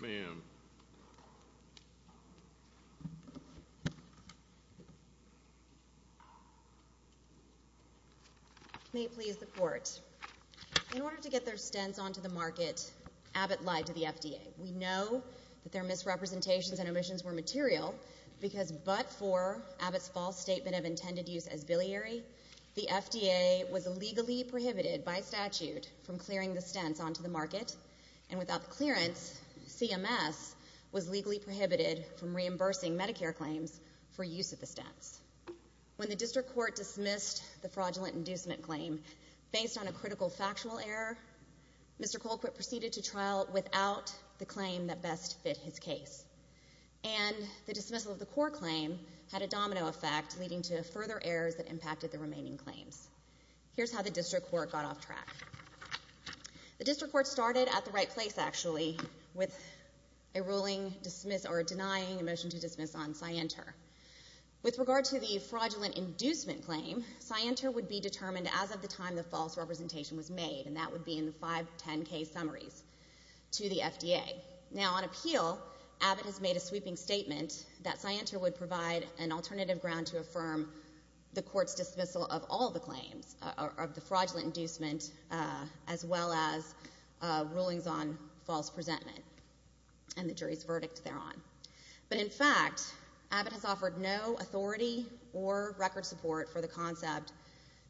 May it please the Court, in order to get their stents onto the market, Abbott lied to the FDA. We know that their misrepresentations and omissions were material, because but for Abbott's false statement of intended use as biliary, the FDA was legally prohibited by statute from clearing the stents onto the market, and without the clearance, CMS was legally prohibited from reimbursing Medicare claims for use of the stents. When the District Court dismissed the fraudulent inducement claim, based on a critical factual error, Mr. Colquitt proceeded to trial without the claim that best fit his case. And the dismissal of the court claim had a domino effect, leading to further errors that impacted the remaining claims. Here's how the District Court got off track. The District Court started at the right place, actually, with a ruling denying a motion to dismiss on Scienter. With regard to the fraudulent inducement claim, Scienter would be determined as of the time the false representation was made, and that would be in the five 10-case summaries to the FDA. Now, on appeal, Abbott has made a sweeping statement that Scienter would provide an alternative ground to affirm the court's dismissal of all the claims, of the fraudulent inducement, as well as rulings on false presentment, and the jury's verdict thereon. But in fact, Abbott has offered no authority or record support for the concept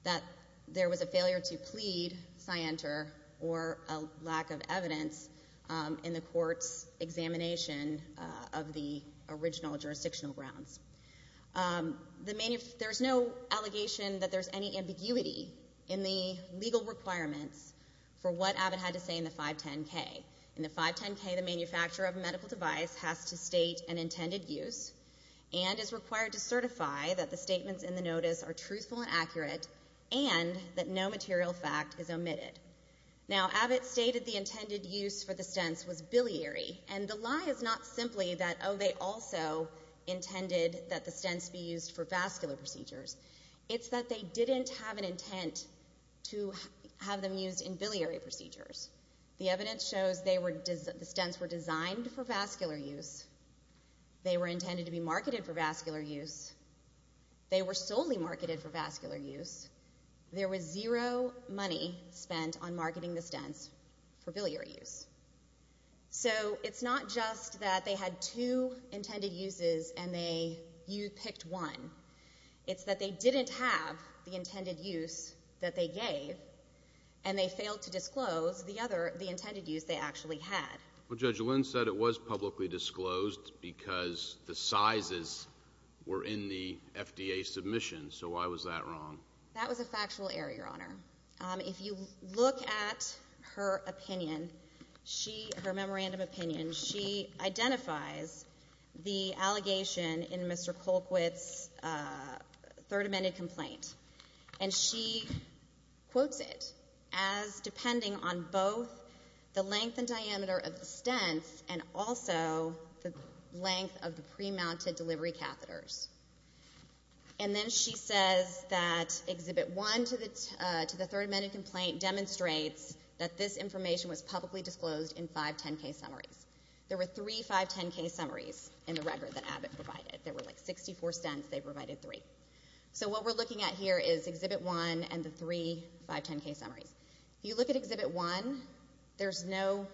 that there was a failure to plead Scienter or a lack of evidence in the court's examination of the original jurisdictional grounds. There's no allegation that there's any ambiguity in the legal requirements for what Abbott had to say in the 510-K. In the 510-K, the manufacturer of a medical device has to state an intended use and is no material fact is omitted. Now, Abbott stated the intended use for the stents was biliary, and the lie is not simply that, oh, they also intended that the stents be used for vascular procedures. It's that they didn't have an intent to have them used in biliary procedures. The evidence shows the stents were designed for vascular use. They were intended to be marketed for vascular use. They were solely marketed for vascular use. There was zero money spent on marketing the stents for biliary use. So it's not just that they had two intended uses and you picked one. It's that they didn't have the intended use that they gave, and they failed to disclose the other, the intended use they actually had. Well, Judge Lynn said it was publicly disclosed because the sizes were in the FDA submission. So why was that wrong? That was a factual error, Your Honor. If you look at her opinion, her memorandum opinion, she identifies the allegation in Mr. Colquitt's Third Amendment complaint. And she quotes it as depending on both the length and diameter of the stents and also the length of the pre-mounted delivery catheters. And then she says that Exhibit 1 to the Third Amendment complaint demonstrates that this information was publicly disclosed in five 10K summaries. There were three five 10K summaries in the record that Abbott provided. There were like 64 stents. They provided three. So what we're looking at here is Exhibit 1 and the three five 10K summaries. If you look at Exhibit 1, there's no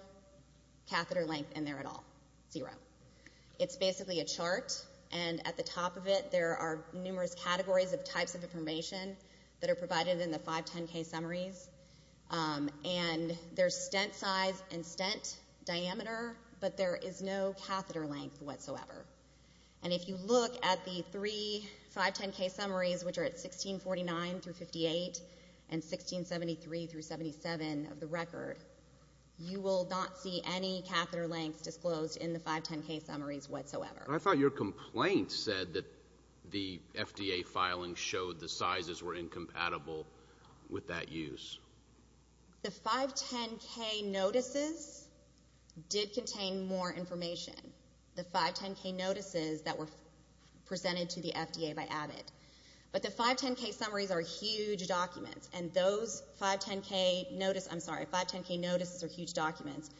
catheter length in there at all, zero. It's basically a chart. And at the top of it, there are numerous categories of types of information that are provided in the five 10K summaries. And there's stent size and stent diameter, but there is no catheter length whatsoever. And if you look at the three five 10K summaries, which are at 1649 through 58 and 1673 through 577 of the record, you will not see any catheter length disclosed in the five 10K summaries whatsoever. I thought your complaint said that the FDA filing showed the sizes were incompatible with that use. The five 10K notices did contain more information. The five 10K notices that were presented to the FDA by Abbott. But the five 10K summaries are huge documents. And those five 10K notice, I'm sorry, five 10K notices are huge documents.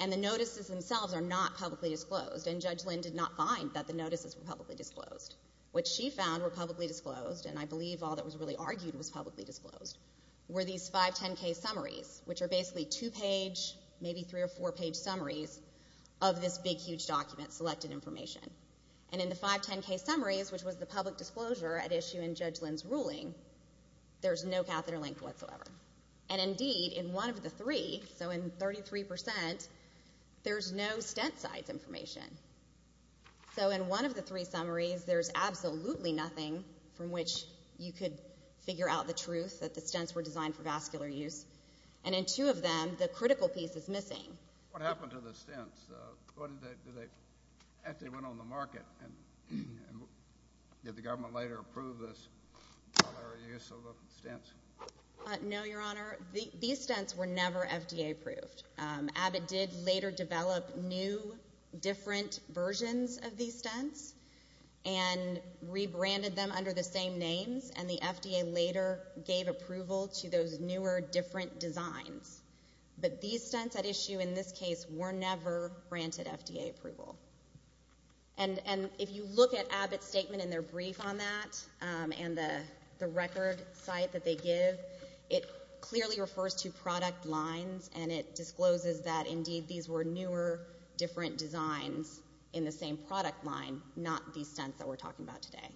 And the notices themselves are not publicly disclosed. And Judge Lynn did not find that the notices were publicly disclosed. What she found were publicly disclosed, and I believe all that was really argued was publicly disclosed, were these five 10K summaries, which are basically two page, maybe three or four page summaries of this big huge document, selected information. And in the five 10K summaries, which was the public disclosure at issue in Judge Lynn's ruling, there's no catheter length whatsoever. And indeed, in one of the three, so in 33%, there's no stent size information. So in one of the three summaries, there's absolutely nothing from which you could figure out the truth that the stents were designed for vascular use. And in two of them, the critical piece is missing. What happened to the stents? What did they, did they, after they went on the market, and did the government later approve this for their use of the stents? No, Your Honor. These stents were never FDA approved. Abbott did later develop new, different versions of these stents, and rebranded them under the same names. And the FDA later gave approval to those newer, different designs. But these stents at issue in this case were never granted FDA approval. And if you look at Abbott's statement in their brief on that, and the record site that they give, it clearly refers to product lines, and it discloses that indeed these were newer, different designs in the same product line, not these stents that we're talking about today.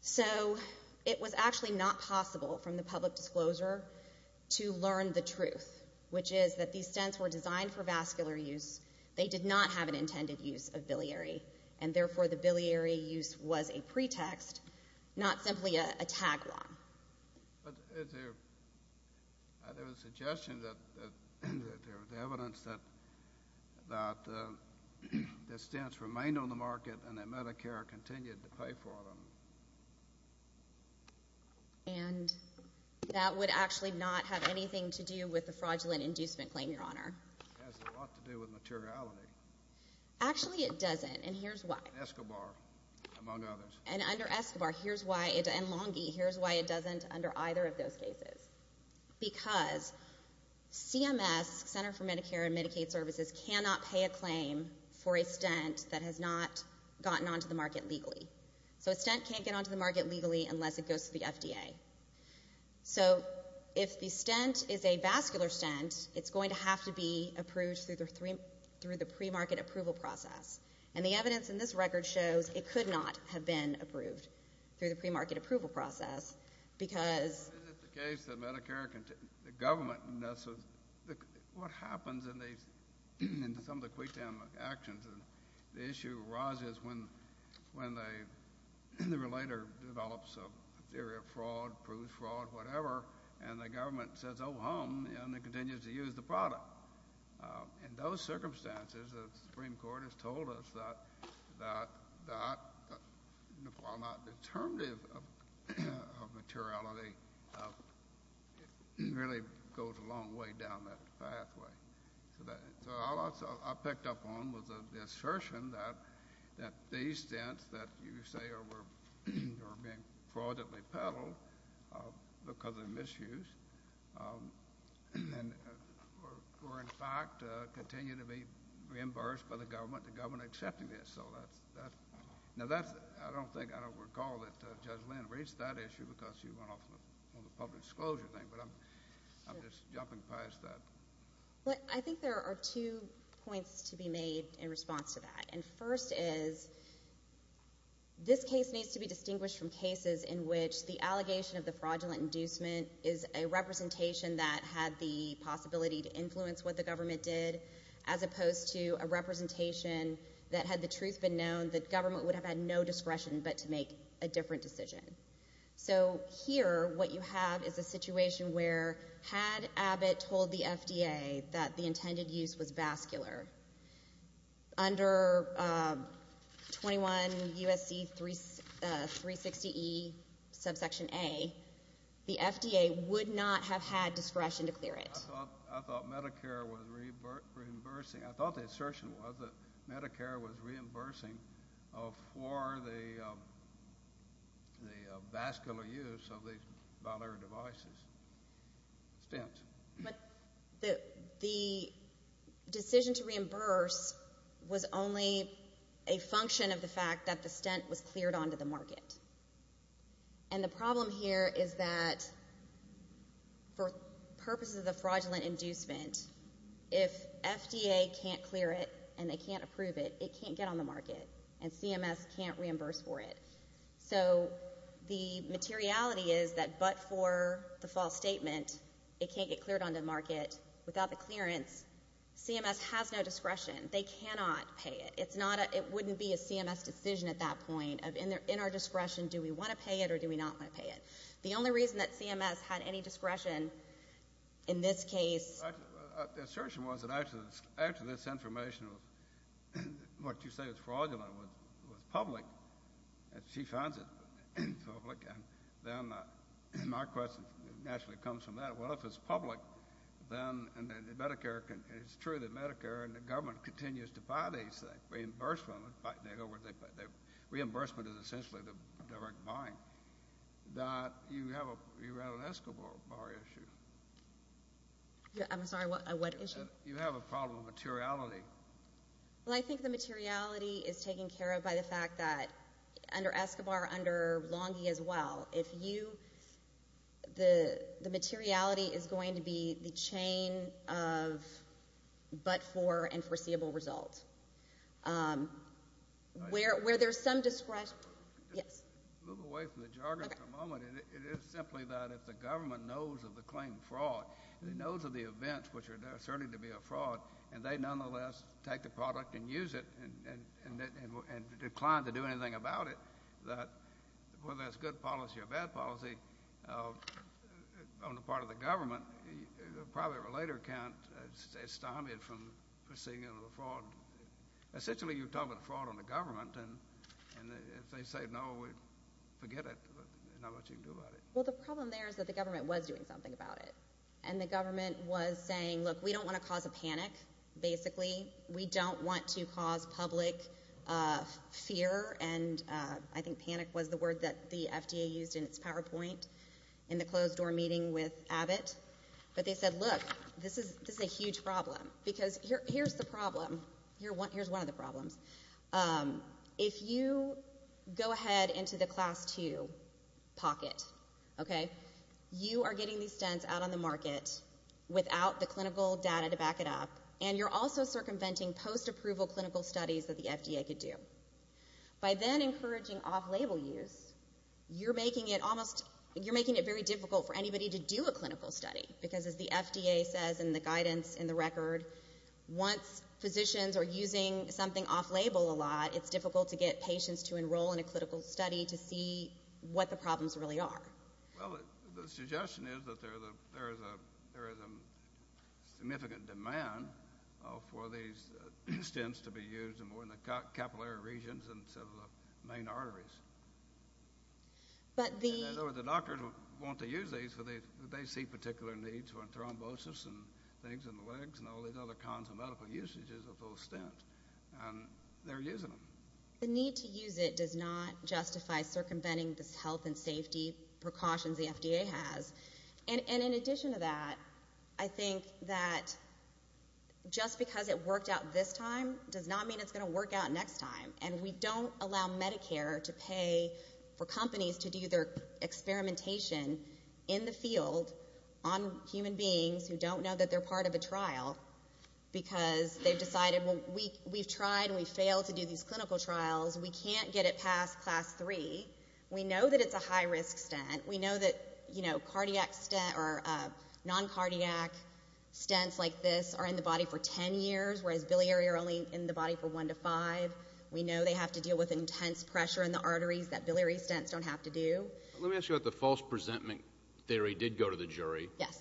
So, it was actually not possible from the public disclosure to learn the truth, which is that these stents were designed for vascular use. They did not have an intended use of biliary. And therefore, the biliary use was a pretext, not simply a tagline. But is there, are there suggestions that, that there was evidence that, that the stents remained on the market, and that Medicare continued to pay for them? And that would actually not have anything to do with the fraudulent inducement claim, Your Honor. It has a lot to do with materiality. Actually it doesn't, and here's why. Escobar, among others. And under Escobar, here's why, and Longy, here's why it doesn't under either of those cases. Because CMS, Center for Medicare and Medicaid Services, cannot pay a claim for a stent that has not gotten onto the market legally. So a stent can't get onto the market legally unless it goes to the FDA. So if the stent is a vascular stent, it's going to have to be approved through the pre-market approval process. And the evidence in this record shows it could not have been approved through the pre-market approval process because Is it the case that Medicare, the government, what happens in these, in some of the quid tem actions, and the issue arises when, when they, the relator develops a theory of fraud, proves fraud, whatever, and the government says, oh, hum, and it continues to use the product. In those circumstances, the Supreme Court has told us that, that, that, while not determinative of, of, of, of materiality, it really goes a long way down that pathway. So that, so all I, I picked up on was the assertion that, that these stents that you say are, were, are being fraudulently peddled because of misuse, and, and were, were in fact continue to be reimbursed by the government, the government accepting this. So that's, that's. Now that's, I don't think, I don't recall that Judge Lynn raised that issue because she went off on the public disclosure thing, but I'm, I'm just jumping past that. I think there are two points to be made in response to that. And first is, this case needs to be distinguished from cases in which the allegation of the fraudulent inducement is a representation that had the possibility to influence what the government did, as opposed to a representation that had the truth been known, that government would have had no discretion but to make a different decision. So here, what you have is a situation where, had Abbott told the FDA that the intended use was vascular, under 21 U.S.C. 360E subsection A, the FDA would not have had discretion to clear it. I thought, I thought Medicare was reimbursing, I thought the assertion was that Medicare was reimbursing for the, the vascular use of these binary devices, stents. But the, the decision to reimburse was only a function of the fact that the stent was cleared onto the market. And the problem here is that for purposes of fraudulent inducement, if FDA can't clear it, and they can't approve it, it can't get on the market, and CMS can't reimburse for it. So the materiality is that but for the false statement, it can't get cleared onto the market. Without the clearance, CMS has no discretion. They cannot pay it. It's not a, it wouldn't be a CMS decision at that point of, in our discretion, do we want to pay it or do we not want to pay it? The only reason that CMS had any discretion in this case. The assertion was that after this, after this information was, what you say is fraudulent was, was public, and she finds it public, and then my question naturally comes from that. Well, if it's public, then, and the Medicare can, it's true that Medicare and the government continues to buy these things, reimbursement, they go where they, they, reimbursement is essentially the direct buying, that you have a, you run an escrow bar issue. Yeah, I'm sorry, what, what issue? You have a problem with materiality. Well, I think the materiality is taken care of by the fact that under Escobar, under Longie as well, if you, the, the materiality is going to be the chain of but for and foreseeable result. Where, where there's some discretion, yes? Move away from the jargon for a moment. Okay. I mean, it, it is simply that if the government knows of the claimed fraud, and it knows of the events which are there, certainly to be a fraud, and they nonetheless take the product and use it, and, and, and, and, and decline to do anything about it, that whether that's good policy or bad policy of, on the part of the government, the private relater can't estimate from proceeding into the fraud. Essentially, you're talking about fraud on the government, and, and if they say no, we Well, the problem there is that the government was doing something about it, and the government was saying, look, we don't want to cause a panic, basically. We don't want to cause public fear, and I think panic was the word that the FDA used in its PowerPoint in the closed door meeting with Abbott, but they said, look, this is, this is a huge problem, because here, here's the problem, here, here's one of the problems. If you go ahead into the class two pocket, okay, you are getting these stents out on the market without the clinical data to back it up, and you're also circumventing post-approval clinical studies that the FDA could do. By then encouraging off-label use, you're making it almost, you're making it very difficult for anybody to do a clinical study, because as the FDA says in the guidance in the record, once physicians are using something off-label a lot, it's difficult to get patients to enroll in a clinical study to see what the problems really are. Well, the suggestion is that there is a, there is a, there is a significant demand for these stents to be used in more in the capillary regions and some of the main arteries. But the In other words, the doctors want to use these, but they, they see particular needs for thrombosis and things in the legs and all these other kinds of medical usages of those stents, and they're using them. The need to use it does not justify circumventing this health and safety precautions the FDA has. And in addition to that, I think that just because it worked out this time does not mean it's going to work out next time. And we don't allow Medicare to pay for companies to do their experimentation in the field on human beings who don't know that they're part of a trial because they've decided, well, we've tried and we've failed to do these clinical trials. We can't get it past class three. We know that it's a high-risk stent. We know that, you know, cardiac stent or non-cardiac stents like this are in the body for 10 years, whereas biliary are only in the body for one to five. We know they have to deal with intense pressure in the arteries that biliary stents don't have to do. Let me ask you what the false presentment theory did go to the jury. Yes.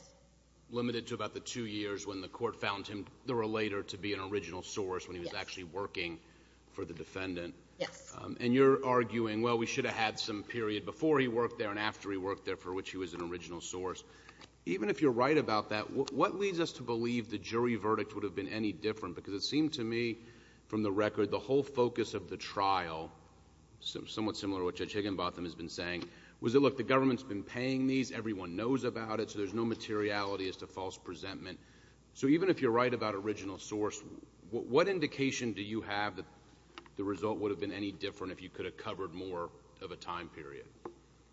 Limited to about the two years when the court found him, the relator, to be an original source when he was actually working for the defendant. Yes. And you're arguing, well, we should have had some period before he worked there and after he worked there for which he was an original source. Even if you're right about that, what leads us to believe the jury verdict would have been any different? Because it seemed to me, from the record, the whole focus of the trial, somewhat similar to what Judge Higginbotham has been saying, was that, look, the government's been paying these. Everyone knows about it. So there's no materiality as to false presentment. So even if you're right about original source, what indication do you have that the result would have been any different if you could have covered more of a time period?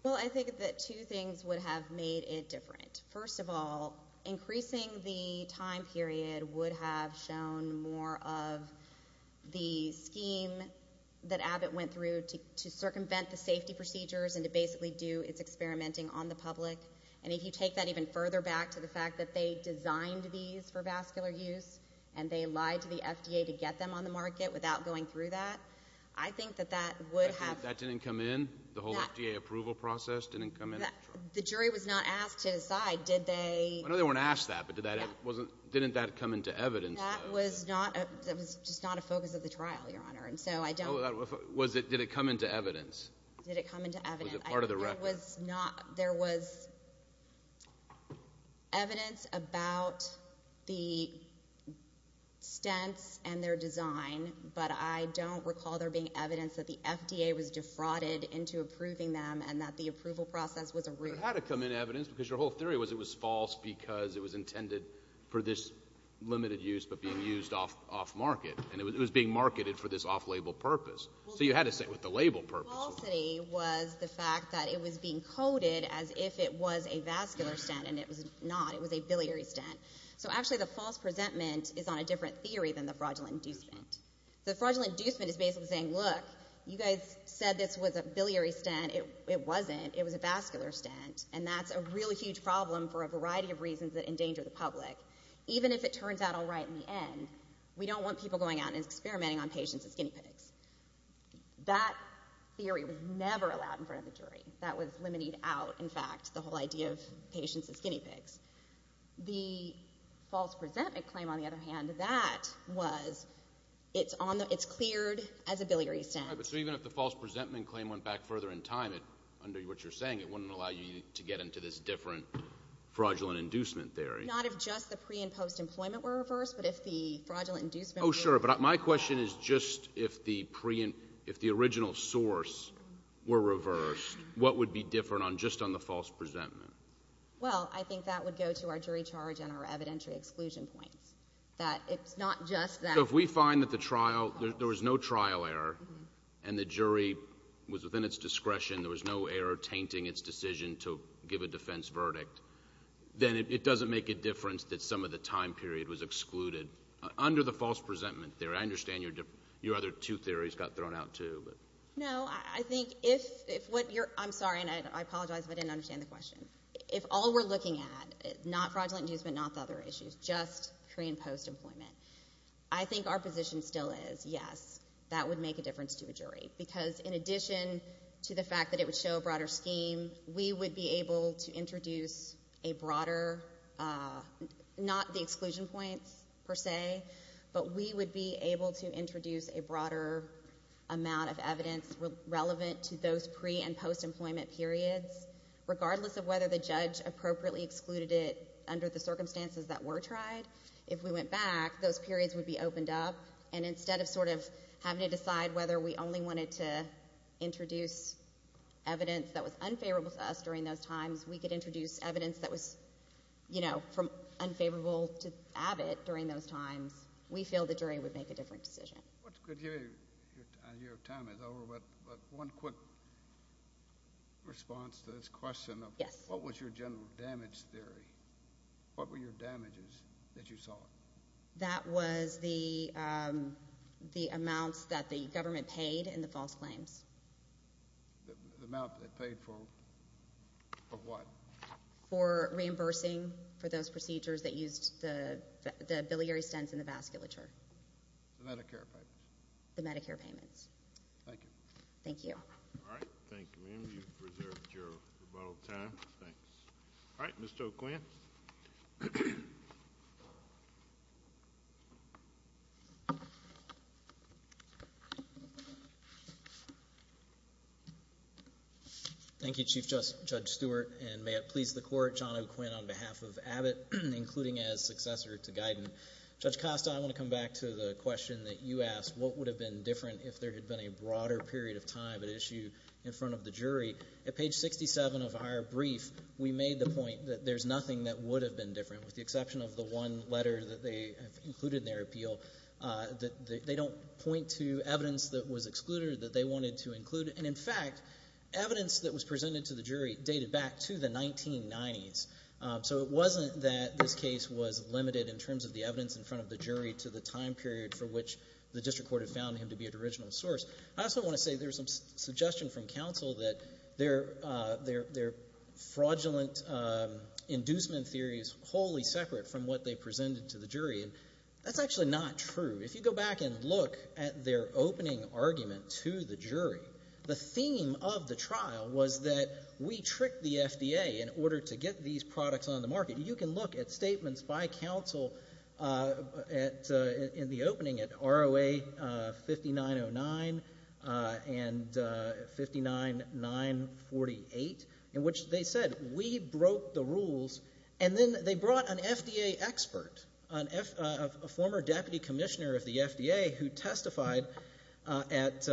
Well, I think that two things would have made it different. First of all, increasing the time period would have shown more of the scheme that Abbott went through to circumvent the safety procedures and to basically do its experimenting on the public. And if you take that even further back to the fact that they designed these for vascular use and they lied to the FDA to get them on the market without going through that, I think that that would have... You think that didn't come in? The whole FDA approval process didn't come in? The jury was not asked to decide, did they... I know they weren't asked that, but didn't that come into evidence? That was just not a focus of the trial, Your Honor, and so I don't... Was it... Did it come into evidence? Did it come into evidence? Was it part of the record? There was not... There was evidence about the stents and their design, but I don't recall there being evidence that the FDA was defrauded into approving them and that the approval process was a ruse. There had to come in evidence because your whole theory was it was false because it was intended for this limited use but being used off-market, and it was being marketed for this off-label purpose. So you had to say it was the label purpose. The falsity was the fact that it was being coded as if it was a vascular stent, and it was not. It was a biliary stent. So, actually, the false presentment is on a different theory than the fraudulent inducement. The fraudulent inducement is basically saying, look, you guys said this was a biliary stent. It wasn't. It was a vascular stent, and that's a really huge problem for a variety of reasons that endanger the public, even if it turns out all right in the end. We don't want people going out and experimenting on patients as guinea pigs. That theory was never allowed in front of the jury. That was limited out, in fact, the whole idea of patients as guinea pigs. The false presentment claim, on the other hand, that was it's on the — it's cleared as a biliary stent. Right. But so even if the false presentment claim went back further in time, under what you're saying, it wouldn't allow you to get into this different fraudulent inducement theory. Not if just the pre- and post-employment were reversed, but if the fraudulent inducement were reversed. Oh, sure. But my question is just if the original source were reversed, what would be different on just on the false presentment? Well, I think that would go to our jury charge and our evidentiary exclusion points, that it's not just that — So if we find that the trial — there was no trial error, and the jury was within its discretion, there was no error tainting its decision to give a defense verdict, then it doesn't make a difference that some of the time period was excluded. Under the false presentment theory, I understand your other two theories got thrown out, too. No, I think if what you're — I'm sorry, and I apologize if I didn't understand the question. If all we're looking at, not fraudulent inducement, not the other issues, just pre- and post-employment, I think our position still is, yes, that would make a difference to a jury. Because in addition to the fact that it would show a broader scheme, we would be able to But we would be able to introduce a broader amount of evidence relevant to those pre- and post-employment periods, regardless of whether the judge appropriately excluded it under the circumstances that were tried. If we went back, those periods would be opened up, and instead of sort of having to decide whether we only wanted to introduce evidence that was unfavorable to us during those times, we could introduce evidence that was, you know, unfavorable to Abbott during those times. We feel the jury would make a different decision. What's good to hear your time is over, but one quick response to this question of what was your general damage theory? What were your damages that you saw? That was the amounts that the government paid in the false claims. The amount they paid for what? For reimbursing for those procedures that used the biliary stents and the vasculature. The Medicare payments. The Medicare payments. Thank you. Thank you. All right. Thank you, ma'am. You've preserved your rebuttal time. Thanks. All right. Mr. O'Quinn. Thank you, Chief Judge Stewart, and may it please the court, John O'Quinn, on behalf of Abbott, including as successor to Guyton. Judge Costa, I want to come back to the question that you asked, what would have been different if there had been a broader period of time at issue in front of the jury? At page 67 of our brief, we made the point that there's nothing that would have been different with the exception of the one letter that they have included in their appeal. They don't point to evidence that was excluded that they wanted to include, and in fact, evidence that was presented to the jury dated back to the 1990s. So it wasn't that this case was limited in terms of the evidence in front of the jury to the time period for which the district court had found him to be an original source. I also want to say there's some suggestion from counsel that their fraudulent inducement theory is wholly separate from what they presented to the jury, and that's actually not true. If you go back and look at their opening argument to the jury, the theme of the trial was that we tricked the FDA in order to get these products on the market. You can look at statements by counsel in the opening at ROA 5909 and 59948 in which they said we broke the rules, and then they brought an FDA expert, a former deputy commissioner of the FDA who testified at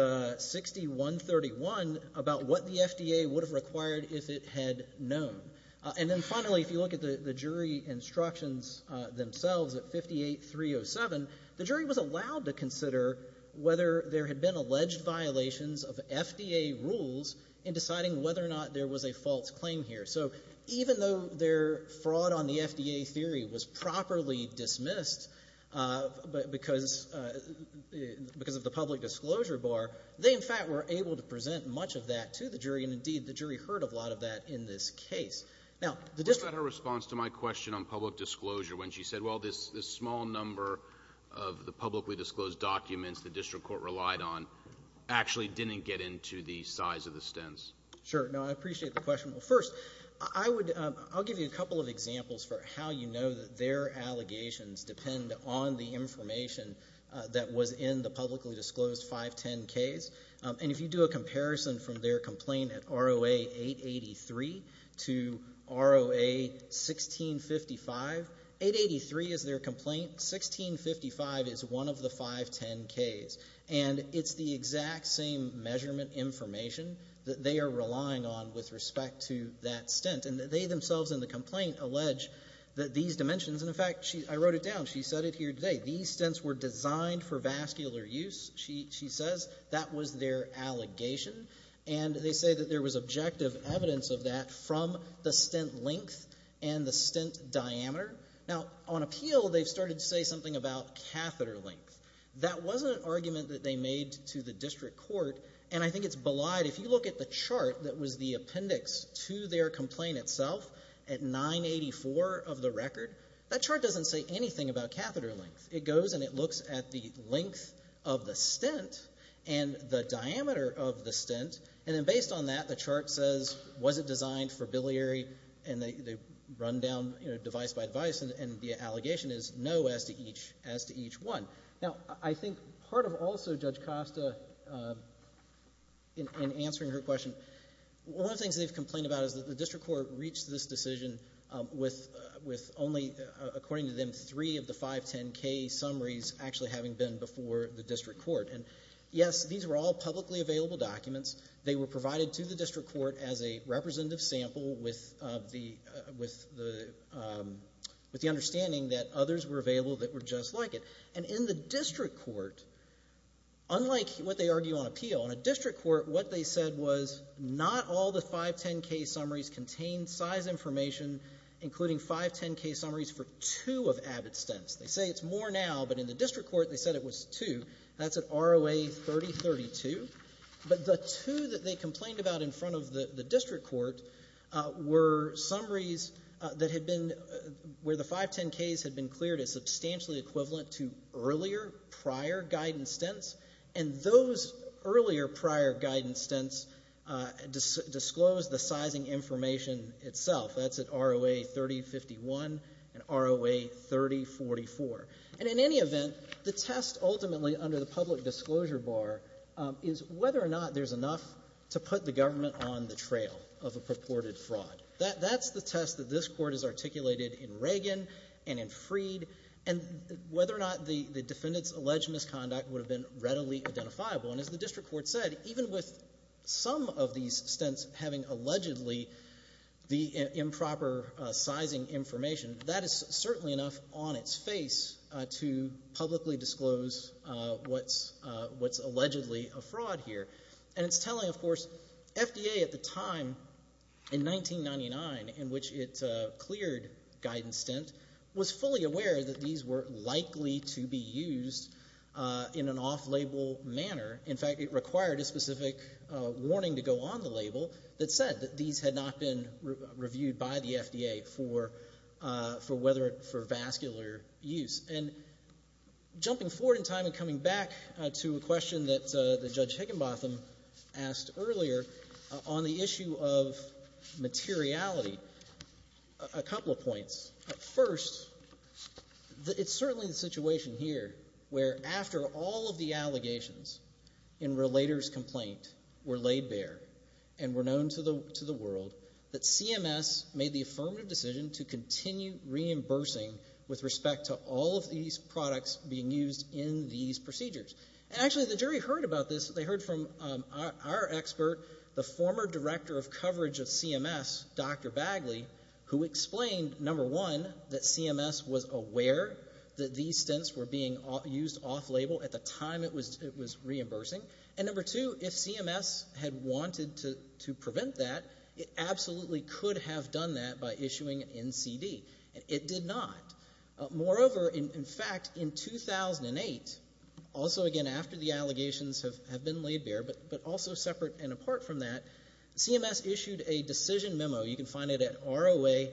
6131 about what the FDA would have required if it had known. And then finally, if you look at the jury instructions themselves at 58307, the jury was allowed to consider whether there had been alleged violations of FDA rules in deciding whether or not there was a false claim here. So even though their fraud on the FDA theory was properly dismissed because of the public disclosure bar, they, in fact, were able to present much of that to the jury, and indeed, the jury heard a lot of that in this case. Now, the district... What about her response to my question on public disclosure when she said, well, this small number of the publicly disclosed documents the district court relied on actually didn't get into the size of the stints? Sure. No, I appreciate the question. Well, first, I would, I'll give you a couple of examples for how you know that their allegations depend on the information that was in the publicly disclosed 510Ks, and if you do a 883 to ROA 1655, 883 is their complaint, 1655 is one of the 510Ks, and it's the exact same measurement information that they are relying on with respect to that stint, and they themselves in the complaint allege that these dimensions, and in fact, I wrote it down, she said it here today, these stints were designed for vascular use, she says. That was their allegation, and they say that there was objective evidence of that from the stint length and the stint diameter. Now, on appeal, they've started to say something about catheter length. That wasn't an argument that they made to the district court, and I think it's belied. If you look at the chart that was the appendix to their complaint itself at 984 of the record, that chart doesn't say anything about catheter length. It goes and it looks at the length of the stint and the diameter of the stint, and then based on that, the chart says, was it designed for biliary, and they run down, you know, device by device, and the allegation is no as to each one. Now, I think part of also Judge Costa in answering her question, one of the things that they've complained about is that the district court reached this decision with only, according to them, three of the 510K summaries actually having been before the district court, and yes, these were all publicly available documents. They were provided to the district court as a representative sample with the understanding that others were available that were just like it, and in the district court, unlike what they argue on appeal, on a district court, what they said was not all the 510K summaries contained size information, including 510K summaries for two of Abbott stints. They say it's more now, but in the district court, they said it was two. That's an ROA 3032, but the two that they complained about in front of the district court were summaries that had been, where the 510Ks had been cleared as substantially equivalent to earlier prior guidance stints, and those earlier prior guidance stints disclosed the sizing information itself. That's at ROA 3051 and ROA 3044, and in any event, the test ultimately under the public disclosure bar is whether or not there's enough to put the government on the trail of a purported fraud. That's the test that this court has articulated in Reagan and in Freed, and whether or not the defendant's alleged misconduct would have been readily identifiable, and as the district court said, even with some of these stints having allegedly the improper sizing information, that is certainly enough on its face to publicly disclose what's allegedly a fraud here, and it's telling, of course, FDA at the time, in 1999, in which it cleared guidance stint, was fully aware that these were likely to be used in an off-label manner. In fact, it required a specific warning to go on the label that said that these had not been reviewed by the FDA for whether, for vascular use. And jumping forward in time and coming back to a question that Judge Higginbotham asked earlier on the issue of materiality, a couple of points. First, it's certainly the situation here where after all of the allegations in Relator's Complaint were laid bare and were known to the world, that CMS made the affirmative decision to continue reimbursing with respect to all of these products being used in these procedures. And actually, the jury heard about this. They heard from our expert, the former director of coverage of CMS, Dr. Bagley, who explained, number one, that CMS was aware that these stints were being used off-label at the time it was reimbursing. And number two, if CMS had wanted to prevent that, it absolutely could have done that by issuing an NCD. It did not. Moreover, in fact, in 2008, also again after the allegations have been laid bare, but also separate and apart from that, CMS issued a decision memo. You can find it at ROA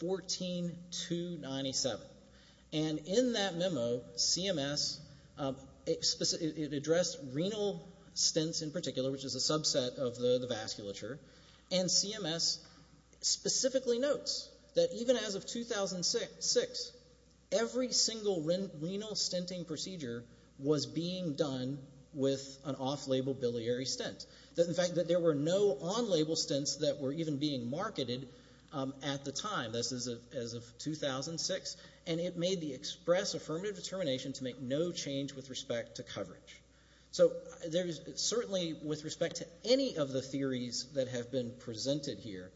14297. And in that memo, CMS addressed renal stints in particular, which is a subset of the vasculature. And CMS specifically notes that even as of 2006, every single renal stinting procedure was being done with an off-label biliary stint. In fact, there were no on-label stints that were even being marketed at the time, as of 2006. And it made the express affirmative determination to make no change with respect to coverage. So there is certainly, with respect to any of the theories that have been presented here,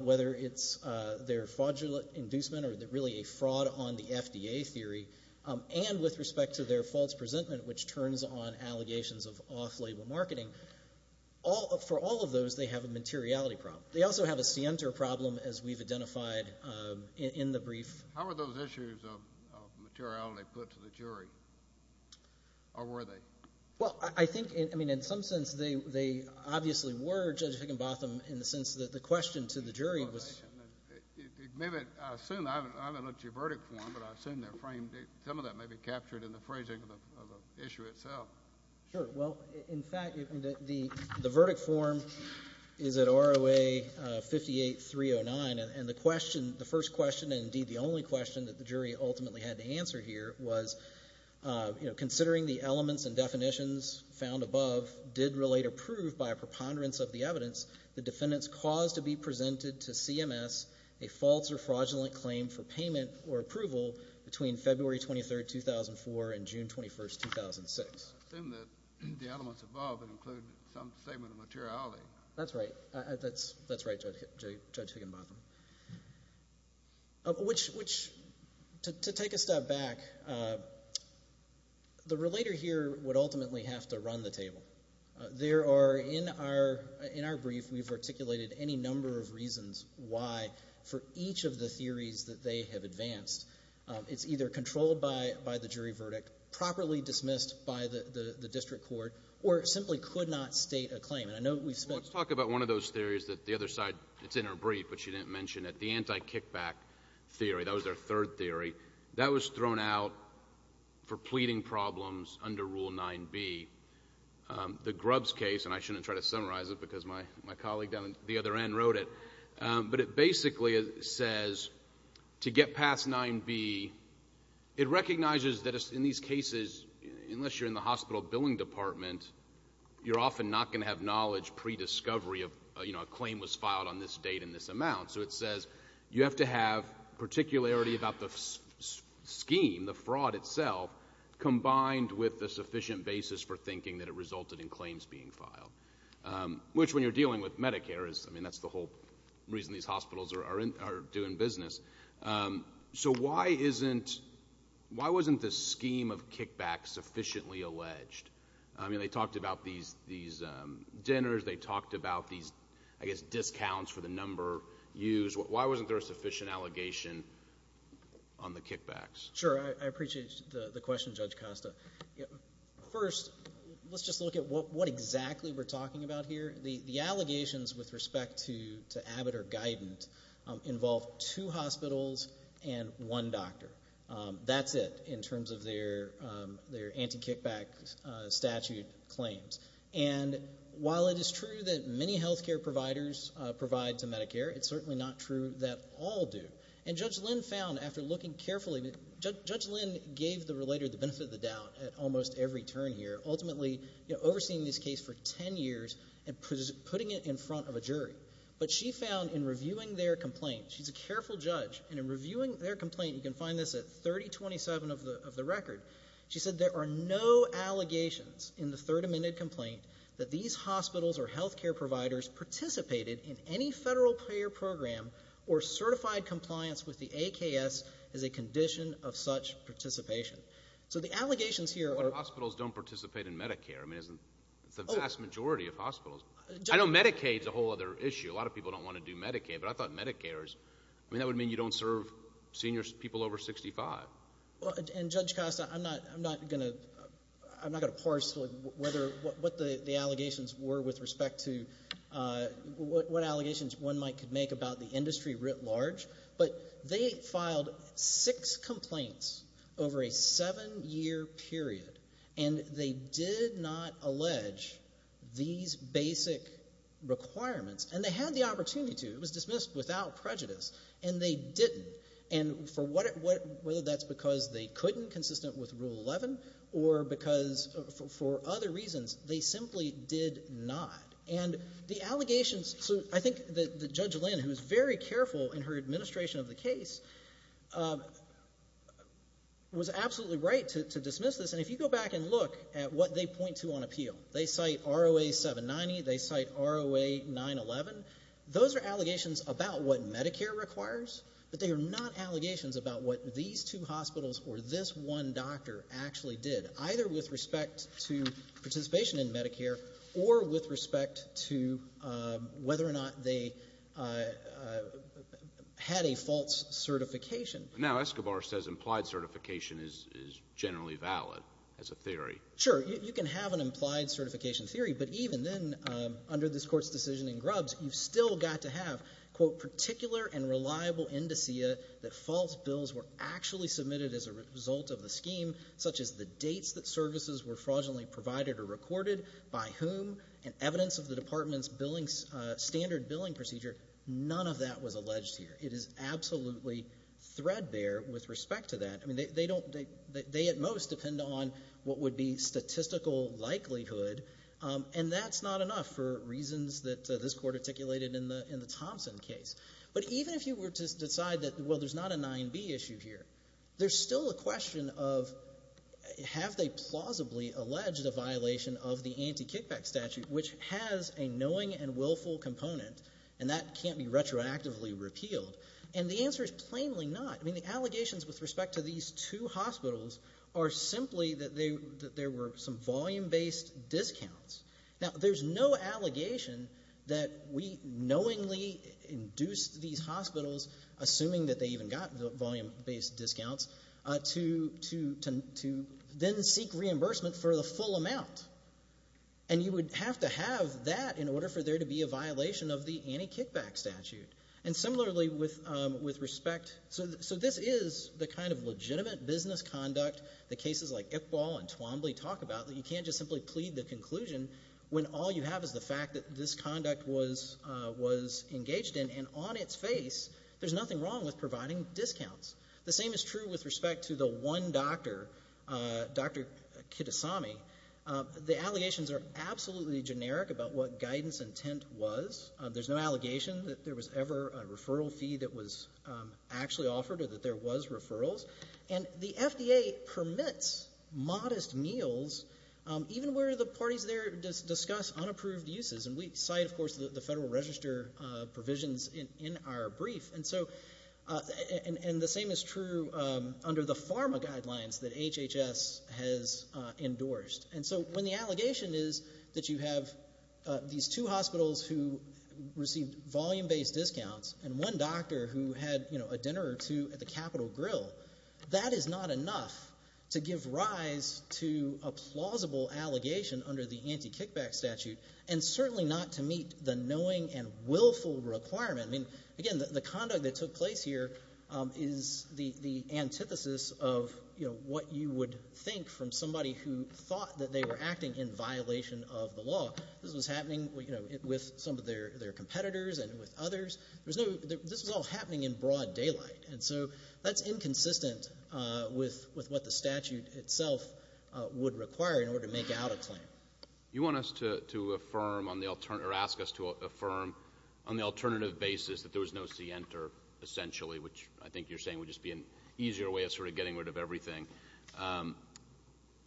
whether it's their fraudulent inducement or really a fraud on the FDA theory, and with respect to the allegations of off-label marketing, for all of those, they have a materiality problem. They also have a scienter problem, as we've identified in the brief. How are those issues of materiality put to the jury, or were they? Well, I think, I mean, in some sense, they obviously were, Judge Higginbotham, in the sense that the question to the jury was... Maybe I assume, I haven't looked at your verdict form, but I assume some of that may be captured in the phrasing of the issue itself. Sure. Well, in fact, the verdict form is at ROA 58309, and the question, the first question, and indeed the only question that the jury ultimately had to answer here was, you know, considering the elements and definitions found above did relate or prove, by a preponderance of the evidence, the defendant's cause to be presented to CMS a false or fraudulent claim for payment or approval between February 23rd, 2004, and June 21st, 2006. I assume that the elements above include some statement of materiality. That's right. That's right, Judge Higginbotham. Which, to take a step back, the relator here would ultimately have to run the table. There are, in our brief, we've articulated any number of reasons why, for each of the theories that they have advanced, it's either controlled by the jury verdict, properly dismissed by the district court, or it simply could not state a claim. And I know we've spent... Well, let's talk about one of those theories that the other side, it's in our brief but she didn't mention it, the anti-kickback theory, that was our third theory. That was thrown out for pleading problems under Rule 9b. The Grubbs case, and I shouldn't try to summarize it because my colleague down at the other end wrote it, but it basically says to get past 9b, it recognizes that in these cases, unless you're in the hospital billing department, you're often not going to have knowledge pre-discovery of, you know, a claim was filed on this date and this amount. So it says you have to have particularity about the scheme, the fraud itself, combined with a sufficient basis for thinking that it resulted in claims being filed. Which, when you're dealing with Medicare, I mean, that's the whole reason these hospitals are doing business. So why isn't... why wasn't the scheme of kickbacks sufficiently alleged? I mean, they talked about these dinners, they talked about these, I guess, discounts for the number used. Why wasn't there a sufficient allegation on the kickbacks? Sure. I appreciate the question, Judge Costa. First, let's just look at what exactly we're talking about here. The allegations with respect to Abbott or Guidant involve two hospitals and one doctor. That's it, in terms of their anti-kickback statute claims. And while it is true that many healthcare providers provide to Medicare, it's certainly not true that all do. And Judge Lynn found, after looking carefully... Judge Lynn gave the relator the benefit of the doubt at almost every turn here, ultimately overseeing this case for 10 years and putting it in front of a jury. But she found in reviewing their complaint... she's a careful judge, and in reviewing their complaint, you can find this at 3027 of the record. She said there are no allegations in the third amended complaint that these hospitals or clients with the AKS is a condition of such participation. So the allegations here are... Well, hospitals don't participate in Medicare. I mean, it's the vast majority of hospitals. I know Medicaid's a whole other issue. A lot of people don't want to do Medicaid, but I thought Medicare's... I mean, that would mean you don't serve seniors, people over 65. And Judge Costa, I'm not going to parse what the allegations were with respect to... what... they filed six complaints over a seven-year period, and they did not allege these basic requirements. And they had the opportunity to. It was dismissed without prejudice, and they didn't. And for what... whether that's because they couldn't, consistent with Rule 11, or because... for other reasons, they simply did not. And the allegations... so I think that Judge Lynn, who was very careful in her administration of the case, was absolutely right to dismiss this. And if you go back and look at what they point to on appeal, they cite ROA 790. They cite ROA 911. Those are allegations about what Medicare requires, but they are not allegations about what these two hospitals or this one doctor actually did, either with respect to participation in Medicare or with respect to whether or not they had a false certification. Now Escobar says implied certification is generally valid as a theory. Sure. You can have an implied certification theory, but even then, under this Court's decision in Grubbs, you've still got to have, quote, particular and reliable indicia that false bills were actually submitted as a result of the scheme, such as the dates that services were fraudulently provided or recorded, by whom, and evidence of the department's billing standard billing procedure. None of that was alleged here. It is absolutely threadbare with respect to that. I mean, they don't — they at most depend on what would be statistical likelihood, and that's not enough for reasons that this Court articulated in the Thompson case. But even if you were to decide that, well, there's not a 9B issue here, there's a 9B issue. Have they plausibly alleged a violation of the anti-kickback statute, which has a knowing and willful component, and that can't be retroactively repealed? And the answer is plainly not. I mean, the allegations with respect to these two hospitals are simply that they — that there were some volume-based discounts. Now, there's no allegation that we knowingly induced these hospitals, assuming that they didn't seek reimbursement for the full amount, and you would have to have that in order for there to be a violation of the anti-kickback statute. And similarly, with respect — so this is the kind of legitimate business conduct that cases like Iqbal and Twombly talk about, that you can't just simply plead the conclusion when all you have is the fact that this conduct was engaged in, and on its face, there's nothing wrong with providing discounts. The same is true with respect to the one doctor, Dr. Kitasami. The allegations are absolutely generic about what guidance intent was. There's no allegation that there was ever a referral fee that was actually offered or that there was referrals. And the FDA permits modest meals, even where the parties there discuss unapproved uses. And we cite, of course, the Federal Register provisions in our brief. And so — and the same is true under the pharma guidelines that HHS has endorsed. And so when the allegation is that you have these two hospitals who received volume-based discounts and one doctor who had, you know, a dinner or two at the Capitol Grill, that is not enough to give rise to a plausible allegation under the anti-kickback statute, and certainly not to meet the knowing and willful requirement. I mean, again, the conduct that took place here is the antithesis of, you know, what you would think from somebody who thought that they were acting in violation of the law. This was happening, you know, with some of their competitors and with others. There was no — this was all happening in broad daylight. And so that's inconsistent with what the statute itself would require in order to make out a claim. You want us to affirm on the — or ask us to affirm on the alternative basis that there was no C-enter, essentially, which I think you're saying would just be an easier way of sort of getting rid of everything.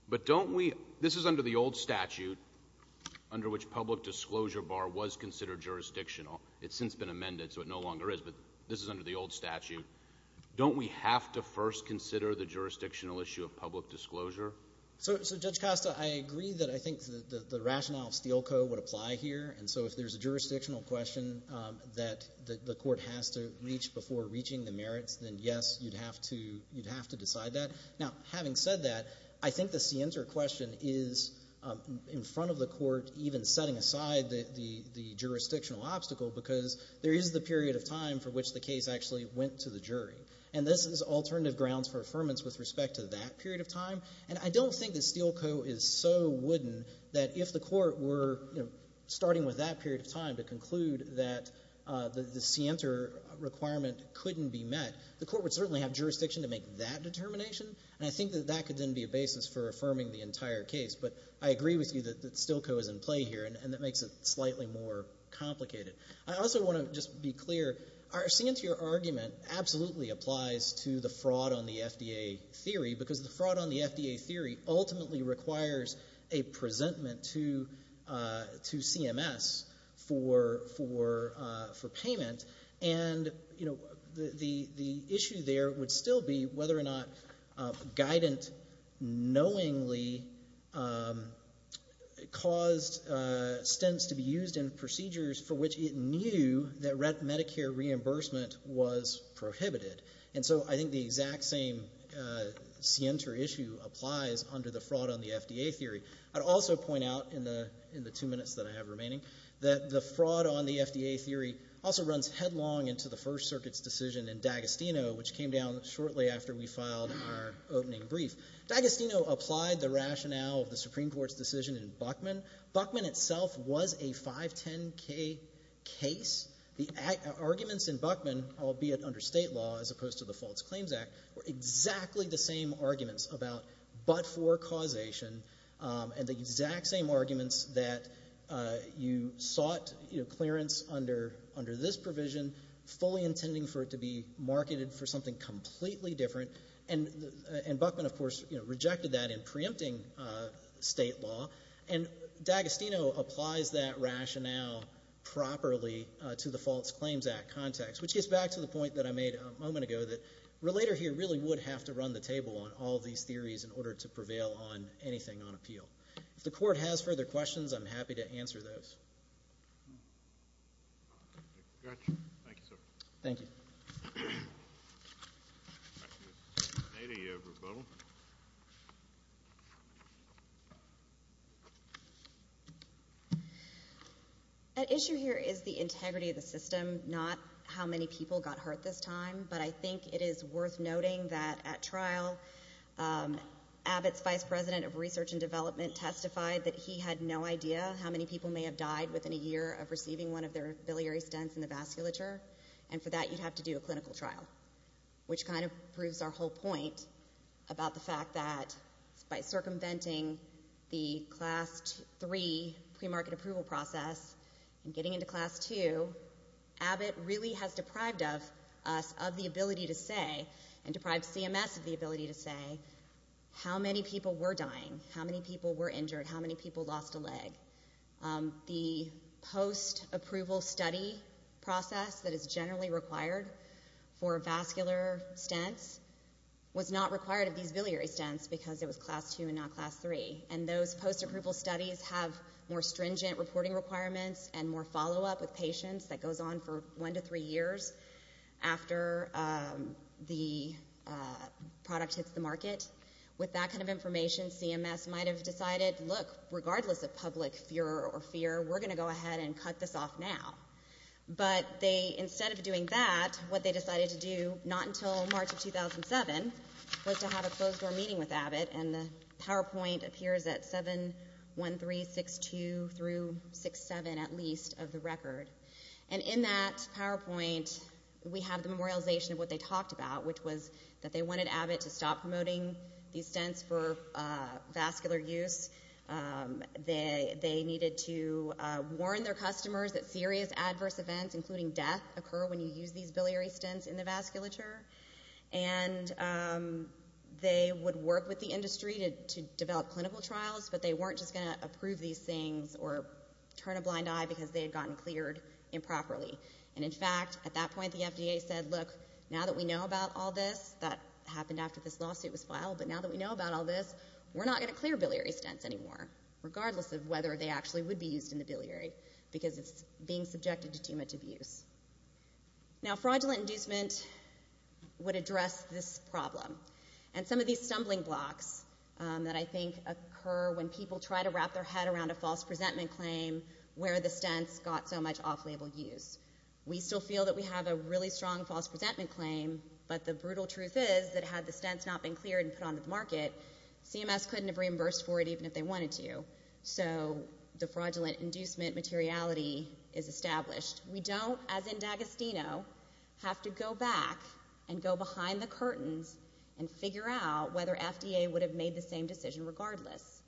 But don't we — this is under the old statute, under which public disclosure bar was considered jurisdictional. It's since been amended, so it no longer is, but this is under the old statute. Don't we have to first consider the jurisdictional issue of public disclosure? So, Judge Costa, I agree that I think the rationale of Steele Co. would apply here. And so if there's a jurisdictional question that the court has to reach before reaching the merits, then yes, you'd have to — you'd have to decide that. Now, having said that, I think the C-enter question is in front of the court even setting aside the jurisdictional obstacle because there is the period of time for which the case actually went to the jury. And this is alternative grounds for affirmance with respect to that period of time. And I don't think that Steele Co. is so wooden that if the court were, you know, starting with that period of time to conclude that the C-enter requirement couldn't be met, the court would certainly have jurisdiction to make that determination. And I think that that could then be a basis for affirming the entire case. But I agree with you that Steele Co. is in play here, and that makes it slightly more complicated. I also want to just be clear. Our C-enter argument absolutely applies to the fraud on the FDA theory because the fraud on the FDA theory ultimately requires a presentment to CMS for payment. And the issue there would still be whether or not guidance knowingly caused stints to be used in procedures for which it knew that Medicare reimbursement was prohibited. And so I think the exact same C-enter issue applies under the fraud on the FDA theory. I'd also point out in the two minutes that I have remaining that the fraud on the FDA theory also runs headlong into the First Circuit's decision in D'Agostino, which came down shortly after we filed our opening brief. D'Agostino applied the rationale of the Supreme Court's decision in Buckman. Buckman itself was a 510k case. The arguments in Buckman, albeit under state law as opposed to the Faults Claims Act, were exactly the same arguments about but-for causation and the exact same arguments that you sought clearance under this provision, fully intending for it to be marketed for something completely different. And Buckman, of course, rejected that in preempting state law. And D'Agostino applies that rationale properly to the Faults Claims Act context, which gets back to the point that I made a moment ago, that a relator here really would have to run the table on all of these theories in order to prevail on anything on appeal. If the Court has further questions, I'm happy to answer those. Thank you, sir. Thank you. Any rebuttal? Thank you. At issue here is the integrity of the system, not how many people got hurt this time, but I think it is worth noting that at trial, Abbott's vice president of research and development testified that he had no idea how many people may have died within a year of receiving one of their biliary stents in the vasculature, and for that you'd have to do a clinical trial, which kind of proves our whole point about the fact that by circumventing the Class 3 premarket approval process and getting into Class 2, Abbott really has deprived us of the ability to say, and deprived CMS of the ability to say, how many people were dying, how many people were injured, how many people lost a leg. The post-approval study process that is generally required for vascular stents was not required of these biliary stents because it was Class 2 and not Class 3, and those post-approval studies have more stringent reporting requirements and more follow-up with patients that goes on for one to three years after the product hits the market. With that kind of information, CMS might have decided, look, regardless of public fear or fear, we're going to go ahead and cut this off now. But instead of doing that, what they decided to do, not until March of 2007, was to have a closed-door meeting with Abbott, and the PowerPoint appears at 71362-67, at least, of the record. And in that PowerPoint, we have the memorialization of what they talked about, which was that they wanted Abbott to stop promoting these stents for vascular use. They needed to warn their customers that serious adverse events, including death, occur when you use these biliary stents in the vasculature. And they would work with the industry to develop clinical trials, but they weren't just going to approve these things or turn a blind eye because they had gotten cleared improperly. And in fact, at that point, the FDA said, look, now that we know about all this, that happened after this lawsuit was filed, but now that we know about all this, we're not going to clear biliary stents anymore, regardless of whether they actually would be used in the biliary, because it's being subjected to too much abuse. Now fraudulent inducement would address this problem. And some of these stumbling blocks that I think occur when people try to wrap their head around a false presentment claim where the stents got so much off-label use. We still feel that we have a really strong false presentment claim, but the brutal truth is that had the stents not been cleared and put onto the market, CMS couldn't have reimbursed for it even if they wanted to. So the fraudulent inducement materiality is established. We don't, as in D'Agostino, have to go back and go behind the curtains and figure out whether FDA would have made the same decision regardless.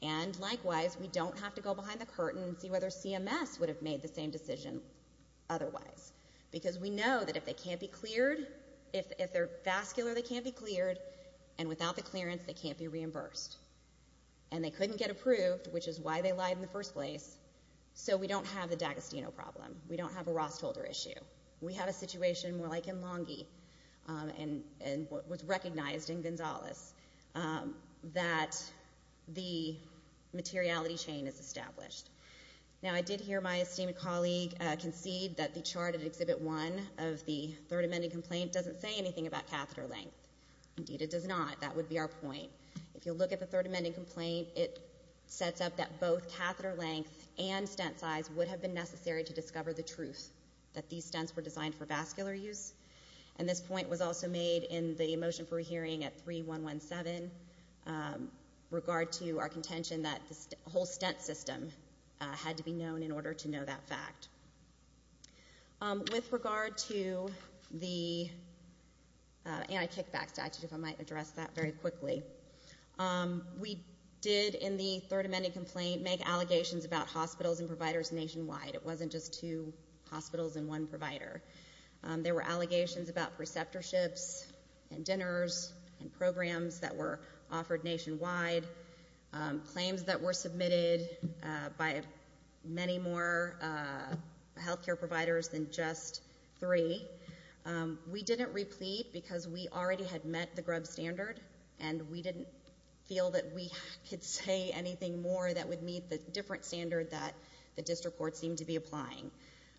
And likewise, we don't have to go behind the curtain and see whether CMS would have made the same decision otherwise. Because we know that if they can't be cleared, if they're vascular, they can't be cleared, and without the clearance, they can't be reimbursed. And they couldn't get approved, which is why they lied in the first place. So we don't have the D'Agostino problem. We don't have a Ross-Tolder issue. We have a situation more like in Longy and was recognized in Gonzales that the materiality chain is established. Now I did hear my esteemed colleague concede that the chart at Exhibit 1 of the Third Amending Complaint doesn't say anything about catheter length. Indeed, it does not. That would be our point. If you look at the Third Amending Complaint, it sets up that both catheter length and stent size would have been necessary to discover the truth, that these stents were designed for vascular use. And this point was also made in the motion for hearing at SB 117, regard to our contention that the whole stent system had to be known in order to know that fact. With regard to the anti-kickback statute, if I might address that very quickly, we did in the Third Amending Complaint make allegations about hospitals and providers nationwide. It wasn't just two hospitals and one provider. There were allegations about programs that were offered nationwide, claims that were submitted by many more health care providers than just three. We didn't replete because we already had met the Grubb standard and we didn't feel that we could say anything more that would meet the different standard that the district court seemed to be applying.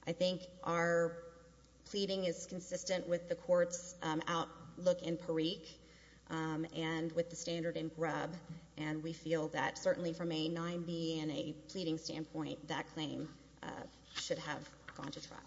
I think our pleading is consistent with the standard in Grubb and we feel that certainly from a 9B and a pleading standpoint, that claim should have gone to trial.